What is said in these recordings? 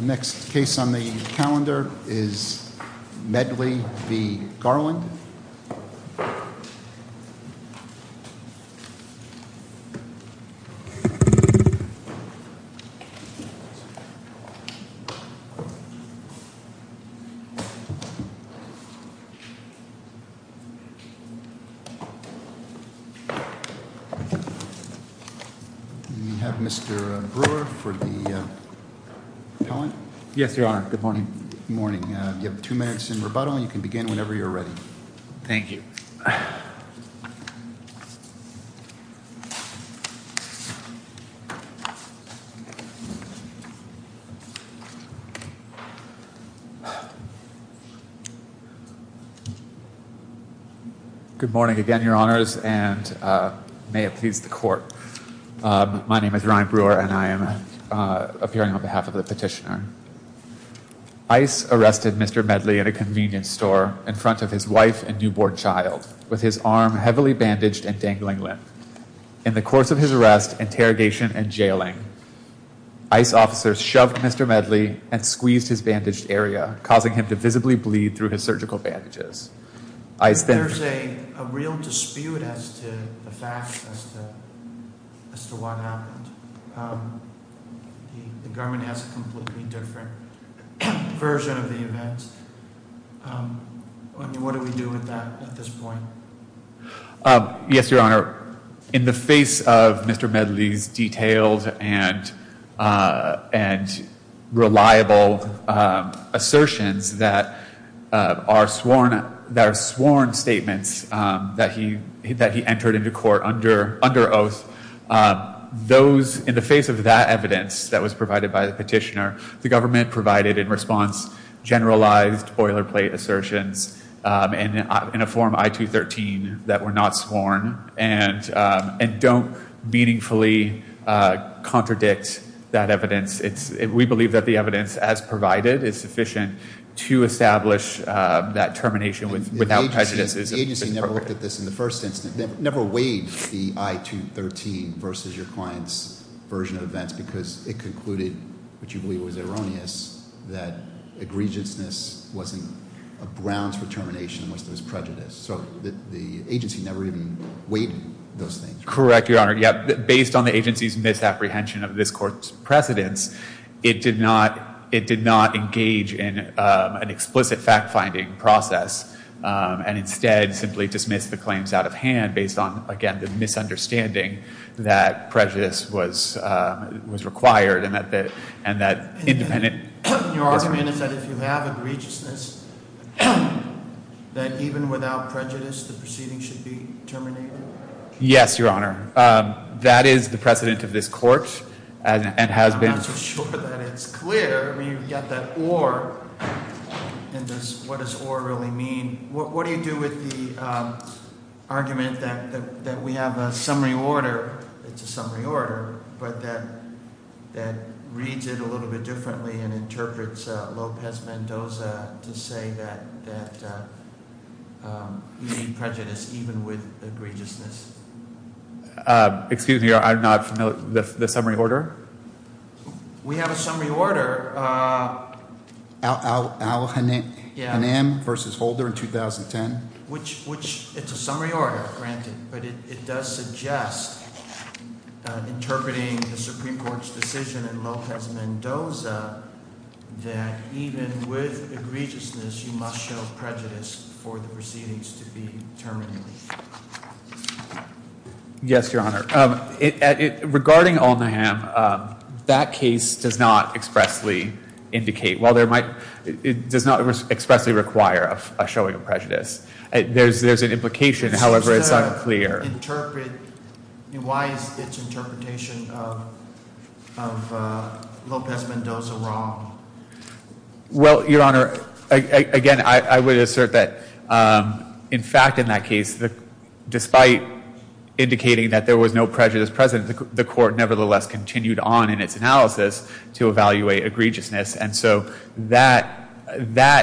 Next case on the calendar is Medley v. Garland. We have Mr. Brewer for the appellant. Yes, Your Honor. Good morning. Good morning. You have two minutes in rebuttal. You can begin whenever you're ready. Thank you. Good morning again, Your Honors, and may it please the Court. My name is Ryan Brewer, and I am appearing on behalf of the petitioner. ICE arrested Mr. Medley in a convenience store in front of his wife and newborn child with his arm heavily bandaged and dangling limp. In the course of his arrest, interrogation, and jailing, ICE officers shoved Mr. Medley and squeezed his bandaged area, causing him to visibly bleed through his surgical bandages. There's a real dispute as to the facts as to what happened. The government has a completely different version of the events. What do we do with that at this point? Yes, Your Honor. In the face of Mr. Medley's detailed and reliable assertions that are sworn statements that he entered into court under oath, in the face of that evidence that was provided by the petitioner, the government provided in response generalized boilerplate assertions in a form I-213 that were not sworn and don't meaningfully contradict that evidence. We believe that the evidence as provided is sufficient to establish that termination without prejudices. The agency never weighed the I-213 versus your client's version of events because it concluded, which you believe was erroneous, that egregiousness wasn't a grounds for termination unless there was prejudice. So the agency never even weighed those things. Correct, Your Honor. Based on the agency's misapprehension of this court's precedence, it did not engage in an explicit fact-finding process that prejudice was required and that independent Your argument is that if you have egregiousness, that even without prejudice, the proceeding should be terminated? Yes, Your Honor. That is the precedent of this court and has been I'm not so sure that it's clear. I mean, you've got that or, and what does or really mean? What do you do with the argument that we have a summary order? It's a summary order, but that reads it a little bit differently and interprets Lopez Mendoza to say that we need prejudice even with egregiousness. Excuse me, I'm not familiar. The summary order? We have a summary order. Al Naham versus Holder in 2010. Which, it's a summary order, granted, but it does suggest interpreting the Supreme Court's decision in Lopez Mendoza that even with egregiousness, you must show prejudice for the proceedings to be terminated. Yes, Your Honor. Regarding Al Naham, that case does not expressly indicate, well, it does not expressly require a showing of prejudice. There's an implication, however, it's unclear. Why is its interpretation of Lopez Mendoza wrong? Well, Your Honor, again, I would assert that, in fact, in that case, despite indicating that there was no prejudice present, the court nevertheless continued on in its analysis to evaluate egregiousness, and so that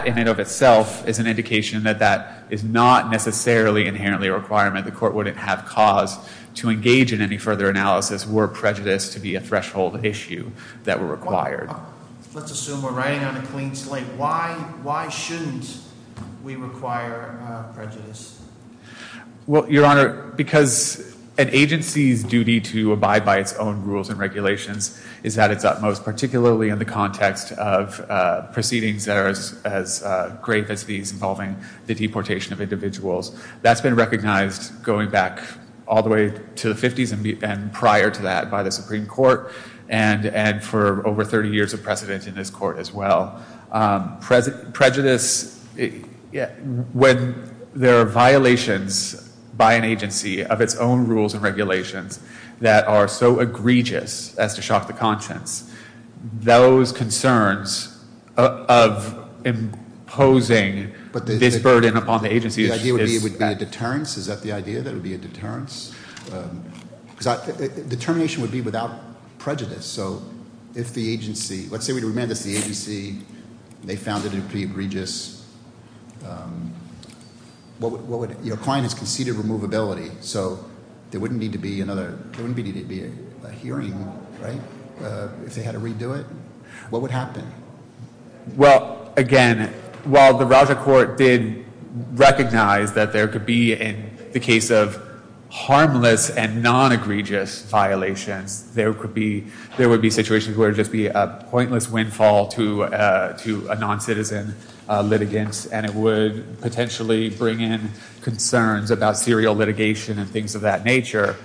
in and of itself is an indication that that is not necessarily inherently a requirement. The court wouldn't have cause to engage in any further analysis were prejudice to be a threshold issue that were required. Let's assume we're riding on a clean slate. Why shouldn't we require prejudice? Well, Your Honor, because an agency's duty to abide by its own rules and regulations is at its utmost, particularly in the context of proceedings that are as grave as these involving the deportation of individuals. That's been recognized going back all the way to the 50s and prior to that by the Supreme Court, and for over 30 years of precedent in this court as well. Prejudice, when there are violations by an agency of its own rules and regulations that are so egregious as to shock the conscience, those concerns of imposing this burden upon the agency is- The idea would be a deterrence? Is that the idea, that it would be a deterrence? Determination would be without prejudice, so if the agency- Let's say we remand this to the agency. They found it to be egregious. Your client has conceded removability, so there wouldn't need to be another- There wouldn't need to be a hearing, right, if they had to redo it? What would happen? Well, again, while the Raja court did recognize that there could be, in the case of harmless and non-egregious violations, there would be situations where it would just be a pointless windfall to a non-citizen litigant, and it would potentially bring in concerns about serial litigation and things of that nature.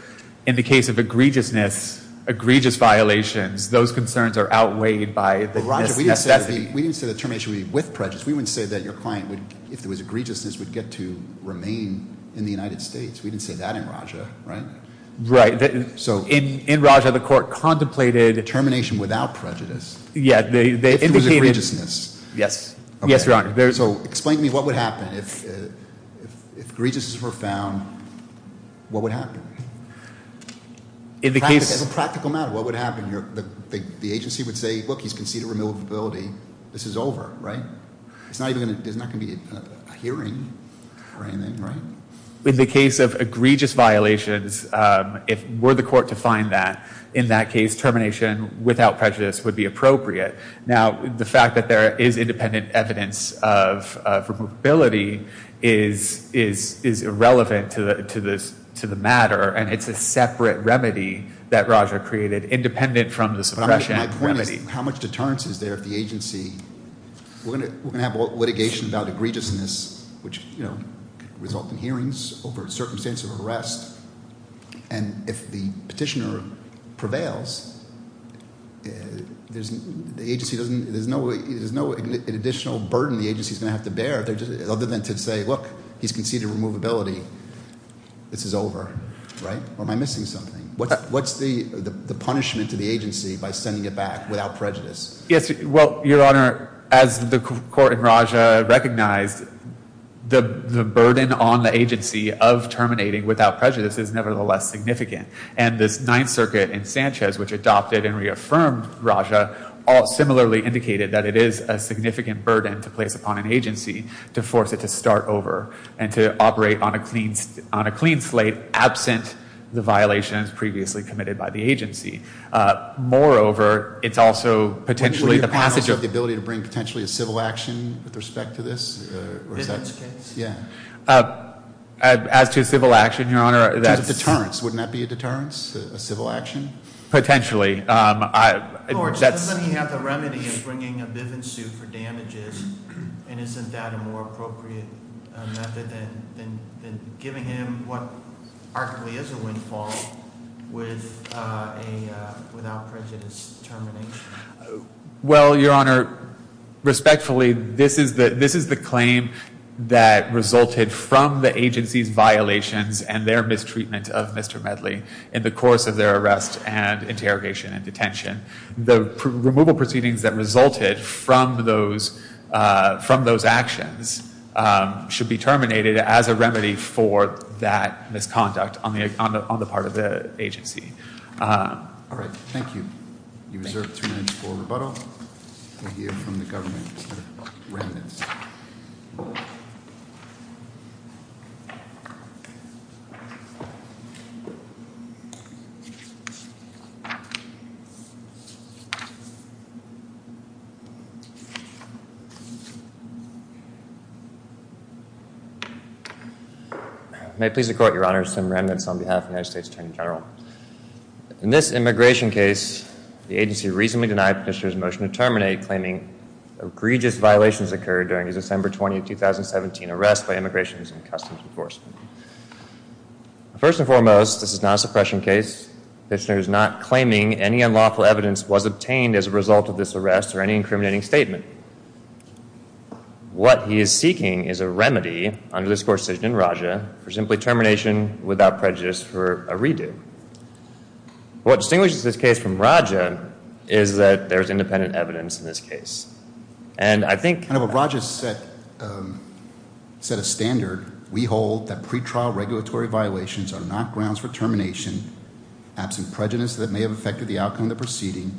In the case of egregiousness, egregious violations, those concerns are outweighed by- We didn't say that termination would be with prejudice. We wouldn't say that your client, if there was egregiousness, would get to remain in the United States. We didn't say that in Raja, right? Right. In Raja, the court contemplated- Termination without prejudice. Yeah, they indicated- If it was egregiousness. Yes. Yes, Your Honor. Explain to me what would happen if egregiousness were found. What would happen? In the case- As a practical matter, what would happen? The agency would say, look, he's conceded removability. This is over, right? There's not going to be a hearing or anything, right? In the case of egregious violations, if we're the court to find that, in that case, termination without prejudice would be appropriate. Now, the fact that there is independent evidence of removability is irrelevant to the matter, and it's a separate remedy that Raja created, independent from the suppression remedy. My point is, how much deterrence is there if the agency- We're going to have litigation about egregiousness, which could result in hearings over a circumstance of arrest, and if the petitioner prevails, there's no additional burden the agency is going to have to bear, other than to say, look, he's conceded removability. This is over, right? Or am I missing something? What's the punishment to the agency by sending it back without prejudice? Yes, well, Your Honor, as the court in Raja recognized, the burden on the agency of terminating without prejudice is nevertheless significant, and this Ninth Circuit in Sanchez, which adopted and reaffirmed Raja, similarly indicated that it is a significant burden to place upon an agency to force it to start over and to operate on a clean slate, absent the violations previously committed by the agency. Moreover, it's also potentially the passage of- Wouldn't your panels have the ability to bring potentially a civil action with respect to this? In this case? Yeah. As to civil action, Your Honor, that's- In terms of deterrence, wouldn't that be a deterrence, a civil action? Potentially. George, doesn't he have the remedy of bringing a Bivens suit for damages, and isn't that a more appropriate method than giving him what arguably is a windfall with a without prejudice termination? Well, Your Honor, respectfully, this is the claim that resulted from the agency's violations and their mistreatment of Mr. Medley in the course of their arrest and interrogation and detention. The removal proceedings that resulted from those actions should be terminated as a remedy for that misconduct on the part of the agency. All right. Thank you. You deserve three minutes for rebuttal. We'll hear from the government, Mr. Remnitz. May it please the Court, Your Honor, Sam Remnitz on behalf of the United States Attorney General. In this immigration case, the agency reasonably denied Petitioner's motion to terminate, claiming egregious violations occurred during his December 20, 2017, arrest by Immigration and Customs Enforcement. First and foremost, this is not a suppression case. Petitioner is not claiming any unlawful evidence was obtained as a result of this arrest or any incriminating statement. What he is seeking is a remedy under this court's decision in Raja for simply termination without prejudice for a redo. What distinguishes this case from Raja is that there is independent evidence in this case. And I think... Under what Raja set a standard, we hold that pretrial regulatory violations are not grounds for termination absent prejudice that may have affected the outcome of the proceeding,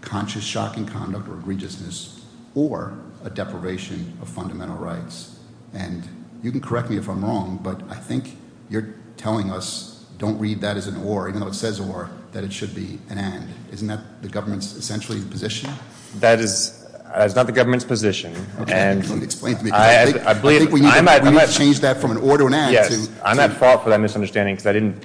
conscious shocking conduct or egregiousness, or a deprivation of fundamental rights. And you can correct me if I'm wrong, but I think you're telling us, don't read that as an or, even though it says or, that it should be an and. Isn't that the government's essentially position? That is not the government's position. Okay, explain it to me. I believe... I think we need to change that from an or to an and to... Yes, I'm at fault for that misunderstanding because I didn't...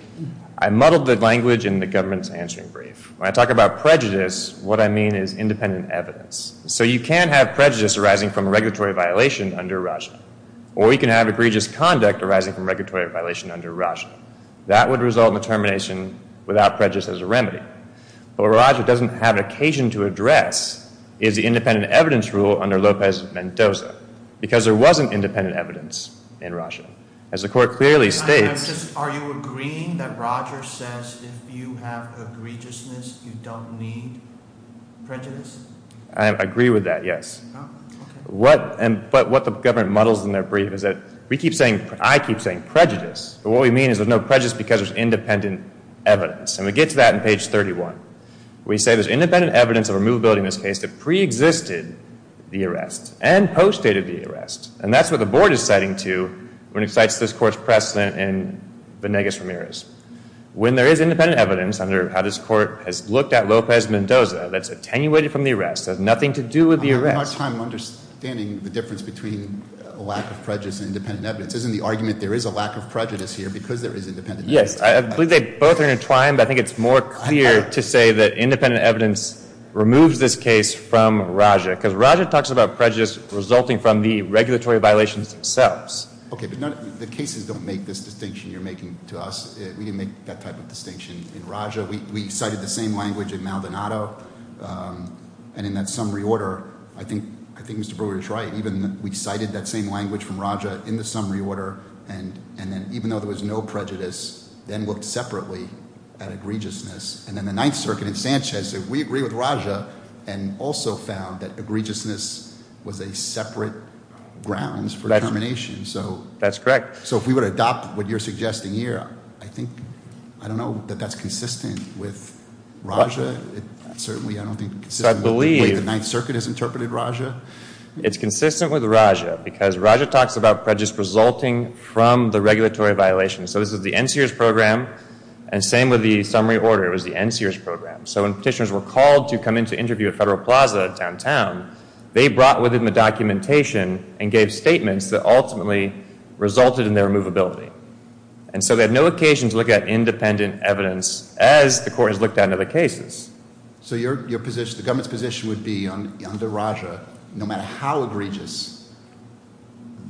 I muddled the language in the government's answering brief. When I talk about prejudice, what I mean is independent evidence. So you can have prejudice arising from regulatory violation under Raja. Or you can have egregious conduct arising from regulatory violation under Raja. That would result in a termination without prejudice as a remedy. But what Raja doesn't have an occasion to address is the independent evidence rule under Lopez-Mendoza. Because there wasn't independent evidence in Raja. As the court clearly states... Are you agreeing that Raja says if you have egregiousness, you don't need prejudice? I agree with that, yes. Okay. But what the government muddles in their brief is that we keep saying... I keep saying prejudice. But what we mean is there's no prejudice because there's independent evidence. And we get to that in page 31. We say there's independent evidence of removability in this case that preexisted the arrest and postdated the arrest. And that's what the board is citing to when it cites this court's precedent in Venegas-Ramirez. When there is independent evidence under how this court has looked at Lopez-Mendoza that's attenuated from the arrest, has nothing to do with the arrest... I'm having a hard time understanding the difference between a lack of prejudice and independent evidence. Isn't the argument there is a lack of prejudice here because there is independent evidence? Yes. I believe they both are intertwined, but I think it's more clear to say that independent evidence removes this case from Raja. Because Raja talks about prejudice resulting from the regulatory violations themselves. Okay, but the cases don't make this distinction you're making to us. We didn't make that type of distinction in Raja. We cited the same language in Maldonado. And in that summary order, I think Mr. Brewer is right. We cited that same language from Raja in the summary order. And then even though there was no prejudice, then looked separately at egregiousness. And then the Ninth Circuit in Sanchez said we agree with Raja and also found that egregiousness was a separate grounds for determination. That's correct. So if we would adopt what you're suggesting here, I don't know that that's consistent with Raja. Certainly I don't think it's consistent with the way the Ninth Circuit has interpreted Raja. It's consistent with Raja because Raja talks about prejudice resulting from the regulatory violations. So this is the NCRS program, and same with the summary order. It was the NCRS program. So when petitioners were called to come in to interview at Federal Plaza downtown, they brought with them the documentation and gave statements that ultimately resulted in their removability. And so they had no occasion to look at independent evidence as the court has looked at other cases. So your position, the government's position would be under Raja, no matter how egregious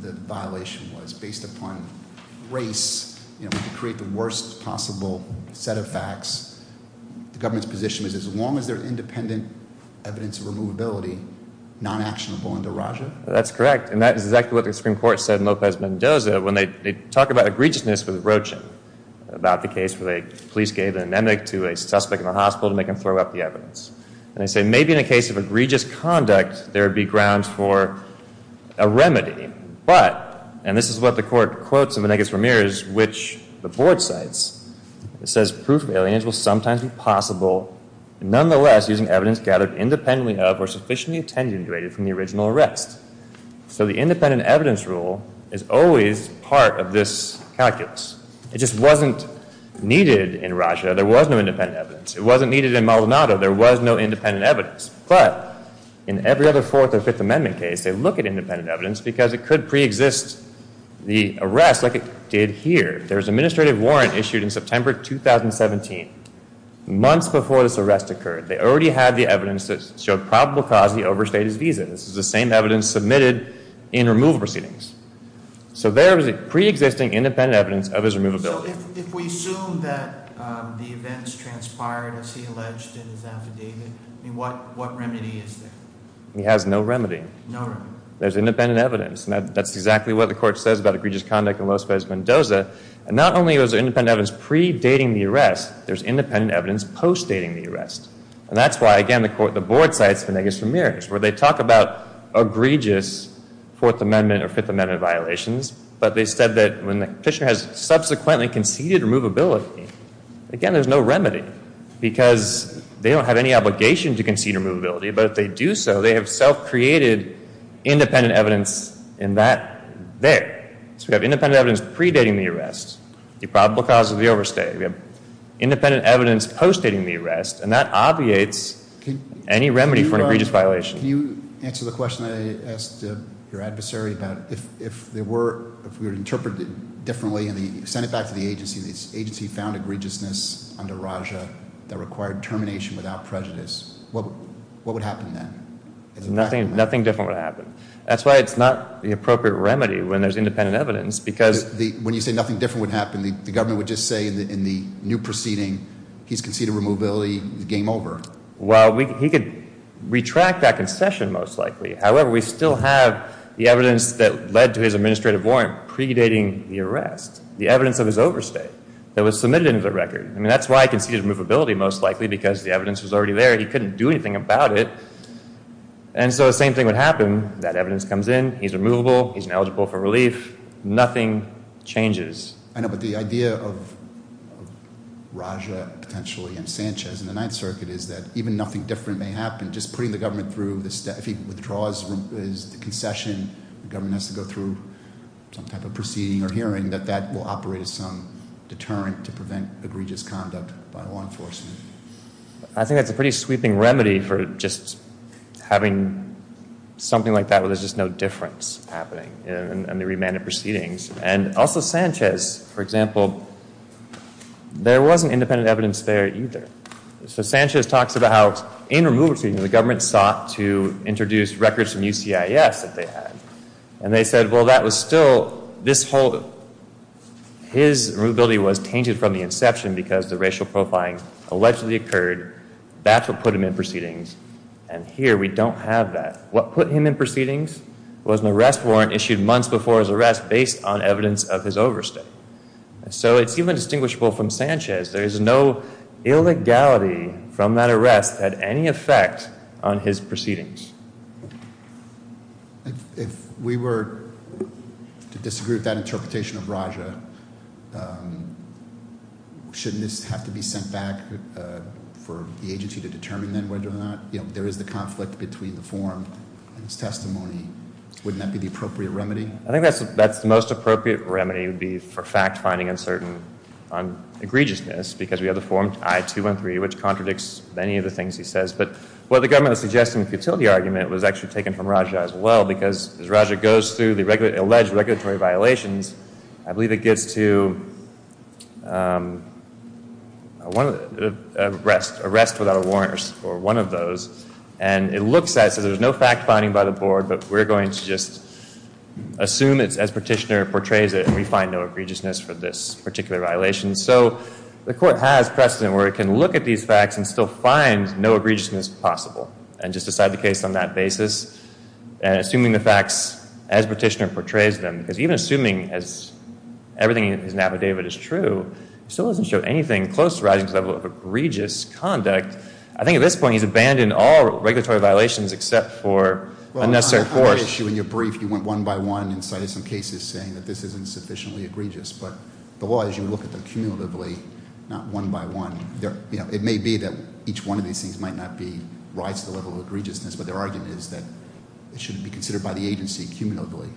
the violation was based upon race, you know, we could create the worst possible set of facts. The government's position is as long as they're independent evidence of removability, non-actionable under Raja? That's correct, and that is exactly what the Supreme Court said in Lopez Mendoza when they talk about egregiousness with Rochin about the case where the police gave an anemone to a suspect in a hospital to make him throw up the evidence. And they say maybe in a case of egregious conduct, there would be grounds for a remedy. But, and this is what the court quotes in the Menegas-Ramirez, which the board cites, it says proof of alienation will sometimes be possible nonetheless using evidence gathered independently of or sufficiently attenuated from the original arrest. So the independent evidence rule is always part of this calculus. It just wasn't needed in Raja, there was no independent evidence. It wasn't needed in Maldonado, there was no independent evidence. But, in every other Fourth or Fifth Amendment case, they look at independent evidence because it could pre-exist the arrest like it did here. There was an administrative warrant issued in September 2017, months before this arrest occurred. They already had the evidence that showed probable cause he overstayed his visa. This is the same evidence submitted in removal proceedings. So there was pre-existing independent evidence of his removability. So if we assume that the events transpired as he alleged in his affidavit, what remedy is there? He has no remedy. No remedy. There's independent evidence. And that's exactly what the court says about egregious conduct in Los Pesos, Mendoza. And not only was there independent evidence pre-dating the arrest, there's independent evidence post-dating the arrest. And that's why, again, the board cites Menegas-Ramirez, where they talk about egregious Fourth Amendment or Fifth Amendment violations. But they said that when the petitioner has subsequently conceded removability, again, there's no remedy. Because they don't have any obligation to concede removability. But if they do so, they have self-created independent evidence in that there. So we have independent evidence pre-dating the arrest, the probable cause of the overstay. We have independent evidence post-dating the arrest. And that obviates any remedy for an egregious violation. Can you answer the question I asked your adversary about if there were, if we were to interpret it differently and send it back to the agency, if the agency found egregiousness under Raja that required termination without prejudice, what would happen then? Nothing different would happen. That's why it's not the appropriate remedy when there's independent evidence because- When you say nothing different would happen, the government would just say in the new proceeding, he's conceded removability, game over. Well, he could retract that concession most likely. However, we still have the evidence that led to his administrative warrant pre-dating the arrest. The evidence of his overstay that was submitted into the record. I mean, that's why he conceded removability most likely because the evidence was already there. He couldn't do anything about it. And so the same thing would happen. That evidence comes in. He's removable. He's ineligible for relief. Nothing changes. I know, but the idea of Raja potentially and Sanchez in the Ninth Circuit is that even nothing different may happen. Just putting the government through, if he withdraws his concession, the government has to go through some type of proceeding or hearing, that that will operate as some deterrent to prevent egregious conduct by law enforcement. I think that's a pretty sweeping remedy for just having something like that where there's just no difference happening in the remanded proceedings. And also Sanchez, for example, there wasn't independent evidence there either. So Sanchez talks about in removal proceedings the government sought to introduce records from UCIS that they had. And they said, well, that was still this whole, his removability was tainted from the inception because the racial profiling allegedly occurred. That's what put him in proceedings. And here we don't have that. What put him in proceedings was an arrest warrant issued months before his arrest based on evidence of his overstay. So it's even distinguishable from Sanchez. There is no illegality from that arrest that had any effect on his proceedings. If we were to disagree with that interpretation of Raja, shouldn't this have to be sent back for the agency to determine then whether or not there is the conflict between the form and his testimony? Wouldn't that be the appropriate remedy? I think that's the most appropriate remedy would be for fact finding uncertain on egregiousness because we have the form I-213 which contradicts many of the things he says. But what the government is suggesting, the futility argument was actually taken from Raja as well because as Raja goes through the alleged regulatory violations, I believe it gets to arrest without a warrant or one of those. And it looks as if there's no fact finding by the board, but we're going to just assume it's as Petitioner portrays it and we find no egregiousness for this particular violation. So the court has precedent where it can look at these facts and still find no egregiousness possible and just decide the case on that basis. And assuming the facts as Petitioner portrays them, because even assuming everything in his affidavit is true, he still doesn't show anything close to rising to the level of egregious conduct. I think at this point he's abandoned all regulatory violations except for unnecessary force. Well, in your brief you went one by one and cited some cases saying that this isn't sufficiently egregious. But the law is you look at them cumulatively, not one by one. It may be that each one of these things might not rise to the level of egregiousness, but their argument is that it should be considered by the agency cumulatively.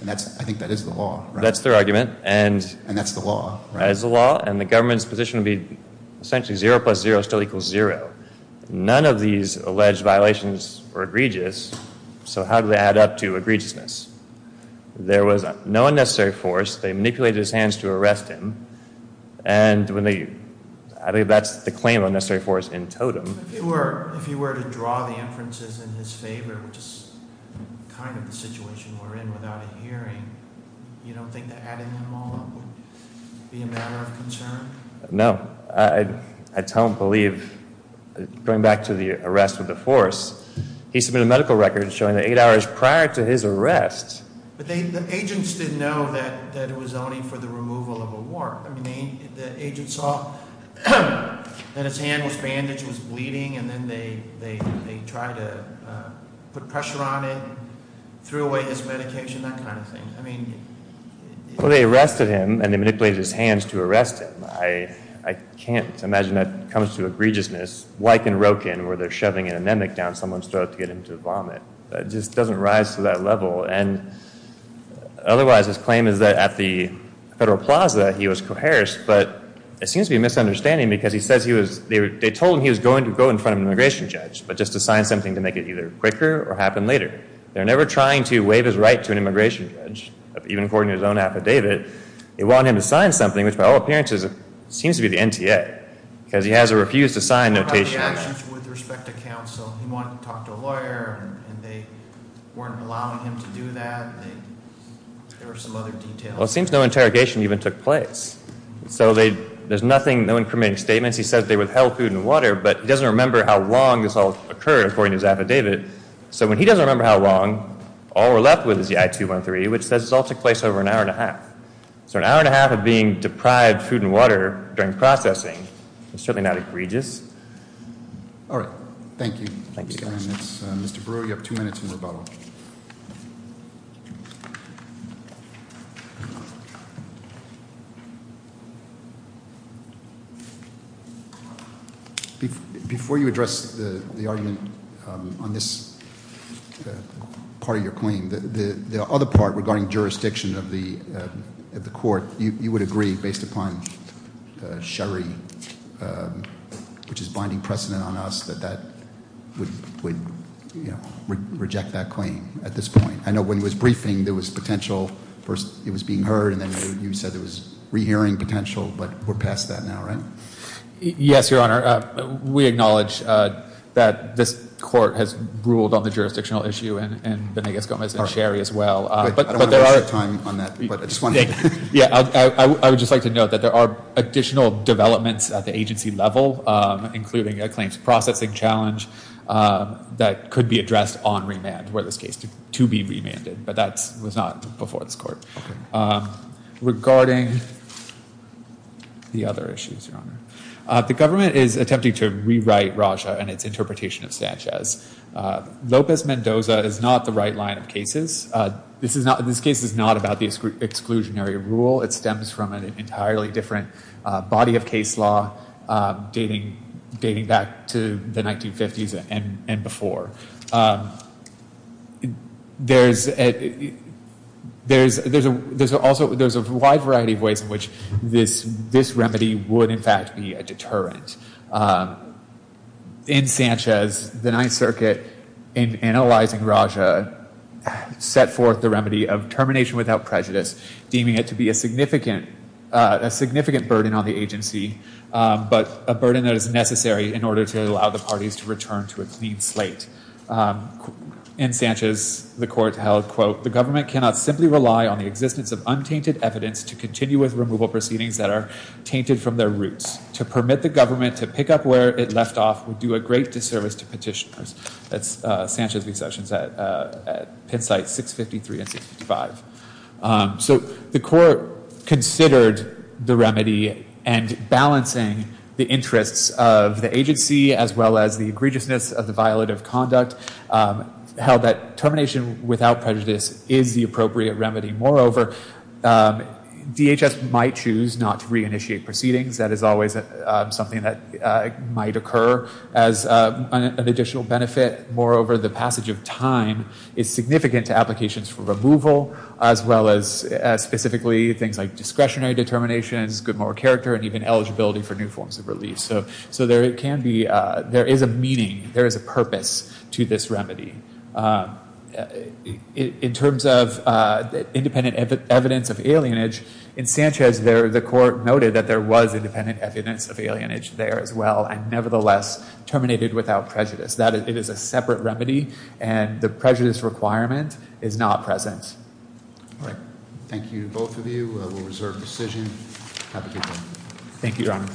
And I think that is the law. That's their argument. And that's the law. And the government's position would be essentially 0 plus 0 still equals 0. None of these alleged violations were egregious, so how do they add up to egregiousness? There was no unnecessary force. They manipulated his hands to arrest him. And I think that's the claim of unnecessary force in totem. If you were to draw the inferences in his favor, which is kind of the situation we're in without a hearing, you don't think that adding them all up would be a matter of concern? No. I don't believe, going back to the arrest of the force, he submitted a medical record showing that eight hours prior to his arrest- But the agents didn't know that it was only for the removal of a wart. I mean, the agent saw that his hand was bandaged, was bleeding, and then they tried to put pressure on it, threw away his medication, that kind of thing. Well, they arrested him, and they manipulated his hands to arrest him. I can't imagine that comes to egregiousness, like in Roken, where they're shoving an anemic down someone's throat to get him to vomit. It just doesn't rise to that level. Otherwise, his claim is that at the Federal Plaza he was coerced, but it seems to be a misunderstanding because he says he was- They told him he was going to go in front of an immigration judge, but just to sign something to make it either quicker or happen later. They're never trying to waive his right to an immigration judge, even according to his own affidavit. They want him to sign something, which by all appearances seems to be the NTA, because he has a refuse-to-sign notation. What about the actions with respect to counsel? He wanted to talk to a lawyer, and they weren't allowing him to do that. There were some other details. Well, it seems no interrogation even took place. So there's nothing, no incriminating statements. He says they withheld food and water, but he doesn't remember how long this all occurred, according to his affidavit. So when he doesn't remember how long, all we're left with is the I-213, which says this all took place over an hour and a half. So an hour and a half of being deprived food and water during processing is certainly not egregious. All right. Thank you. Mr. Brewer, you have two minutes in rebuttal. Before you address the argument on this part of your claim, the other part regarding jurisdiction of the court, you would agree, based upon Sherry, which is binding precedent on us, that that would reject that claim. I know when it was briefing, there was potential for it was being heard, and then you said there was rehearing potential, but we're past that now, right? Yes, Your Honor. We acknowledge that this court has ruled on the jurisdictional issue, and Benegas-Gomez and Sherry as well. I don't want to waste your time on that. I would just like to note that there are additional developments at the agency level, including a claims processing challenge that could be addressed on remand, or in this case, to be remanded, but that was not before this court. Regarding the other issues, Your Honor, the government is attempting to rewrite Raja and its interpretation of Sanchez. Lopez-Mendoza is not the right line of cases. This case is not about the exclusionary rule. It stems from an entirely different body of case law dating back to the 1950s and before. There's a wide variety of ways in which this remedy would, in fact, be a deterrent. In Sanchez, the Ninth Circuit, in analyzing Raja, set forth the remedy of termination without prejudice, deeming it to be a significant burden on the agency, but a burden that is necessary in order to allow the parties to return to a clean slate. In Sanchez, the court held, quote, the government cannot simply rely on the existence of untainted evidence to continue with removal proceedings that are tainted from their roots. To permit the government to pick up where it left off would do a great disservice to petitioners. That's Sanchez v. Sessions at Penn site 653 and 655. So the court considered the remedy and balancing the interests of the agency as well as the egregiousness of the violative conduct, held that termination without prejudice is the appropriate remedy. Moreover, DHS might choose not to reinitiate proceedings. That is always something that might occur as an additional benefit. Moreover, the passage of time is significant to applications for removal, as well as specifically things like discretionary determinations, good moral character, and even eligibility for new forms of release. So there is a meaning, there is a purpose to this remedy. In terms of independent evidence of alienage, in Sanchez, the court noted that there was independent evidence of alienage there as well and, nevertheless, terminated without prejudice. It is a separate remedy, and the prejudice requirement is not present. All right. Thank you, both of you. We'll reserve the decision. Thank you, Your Honor.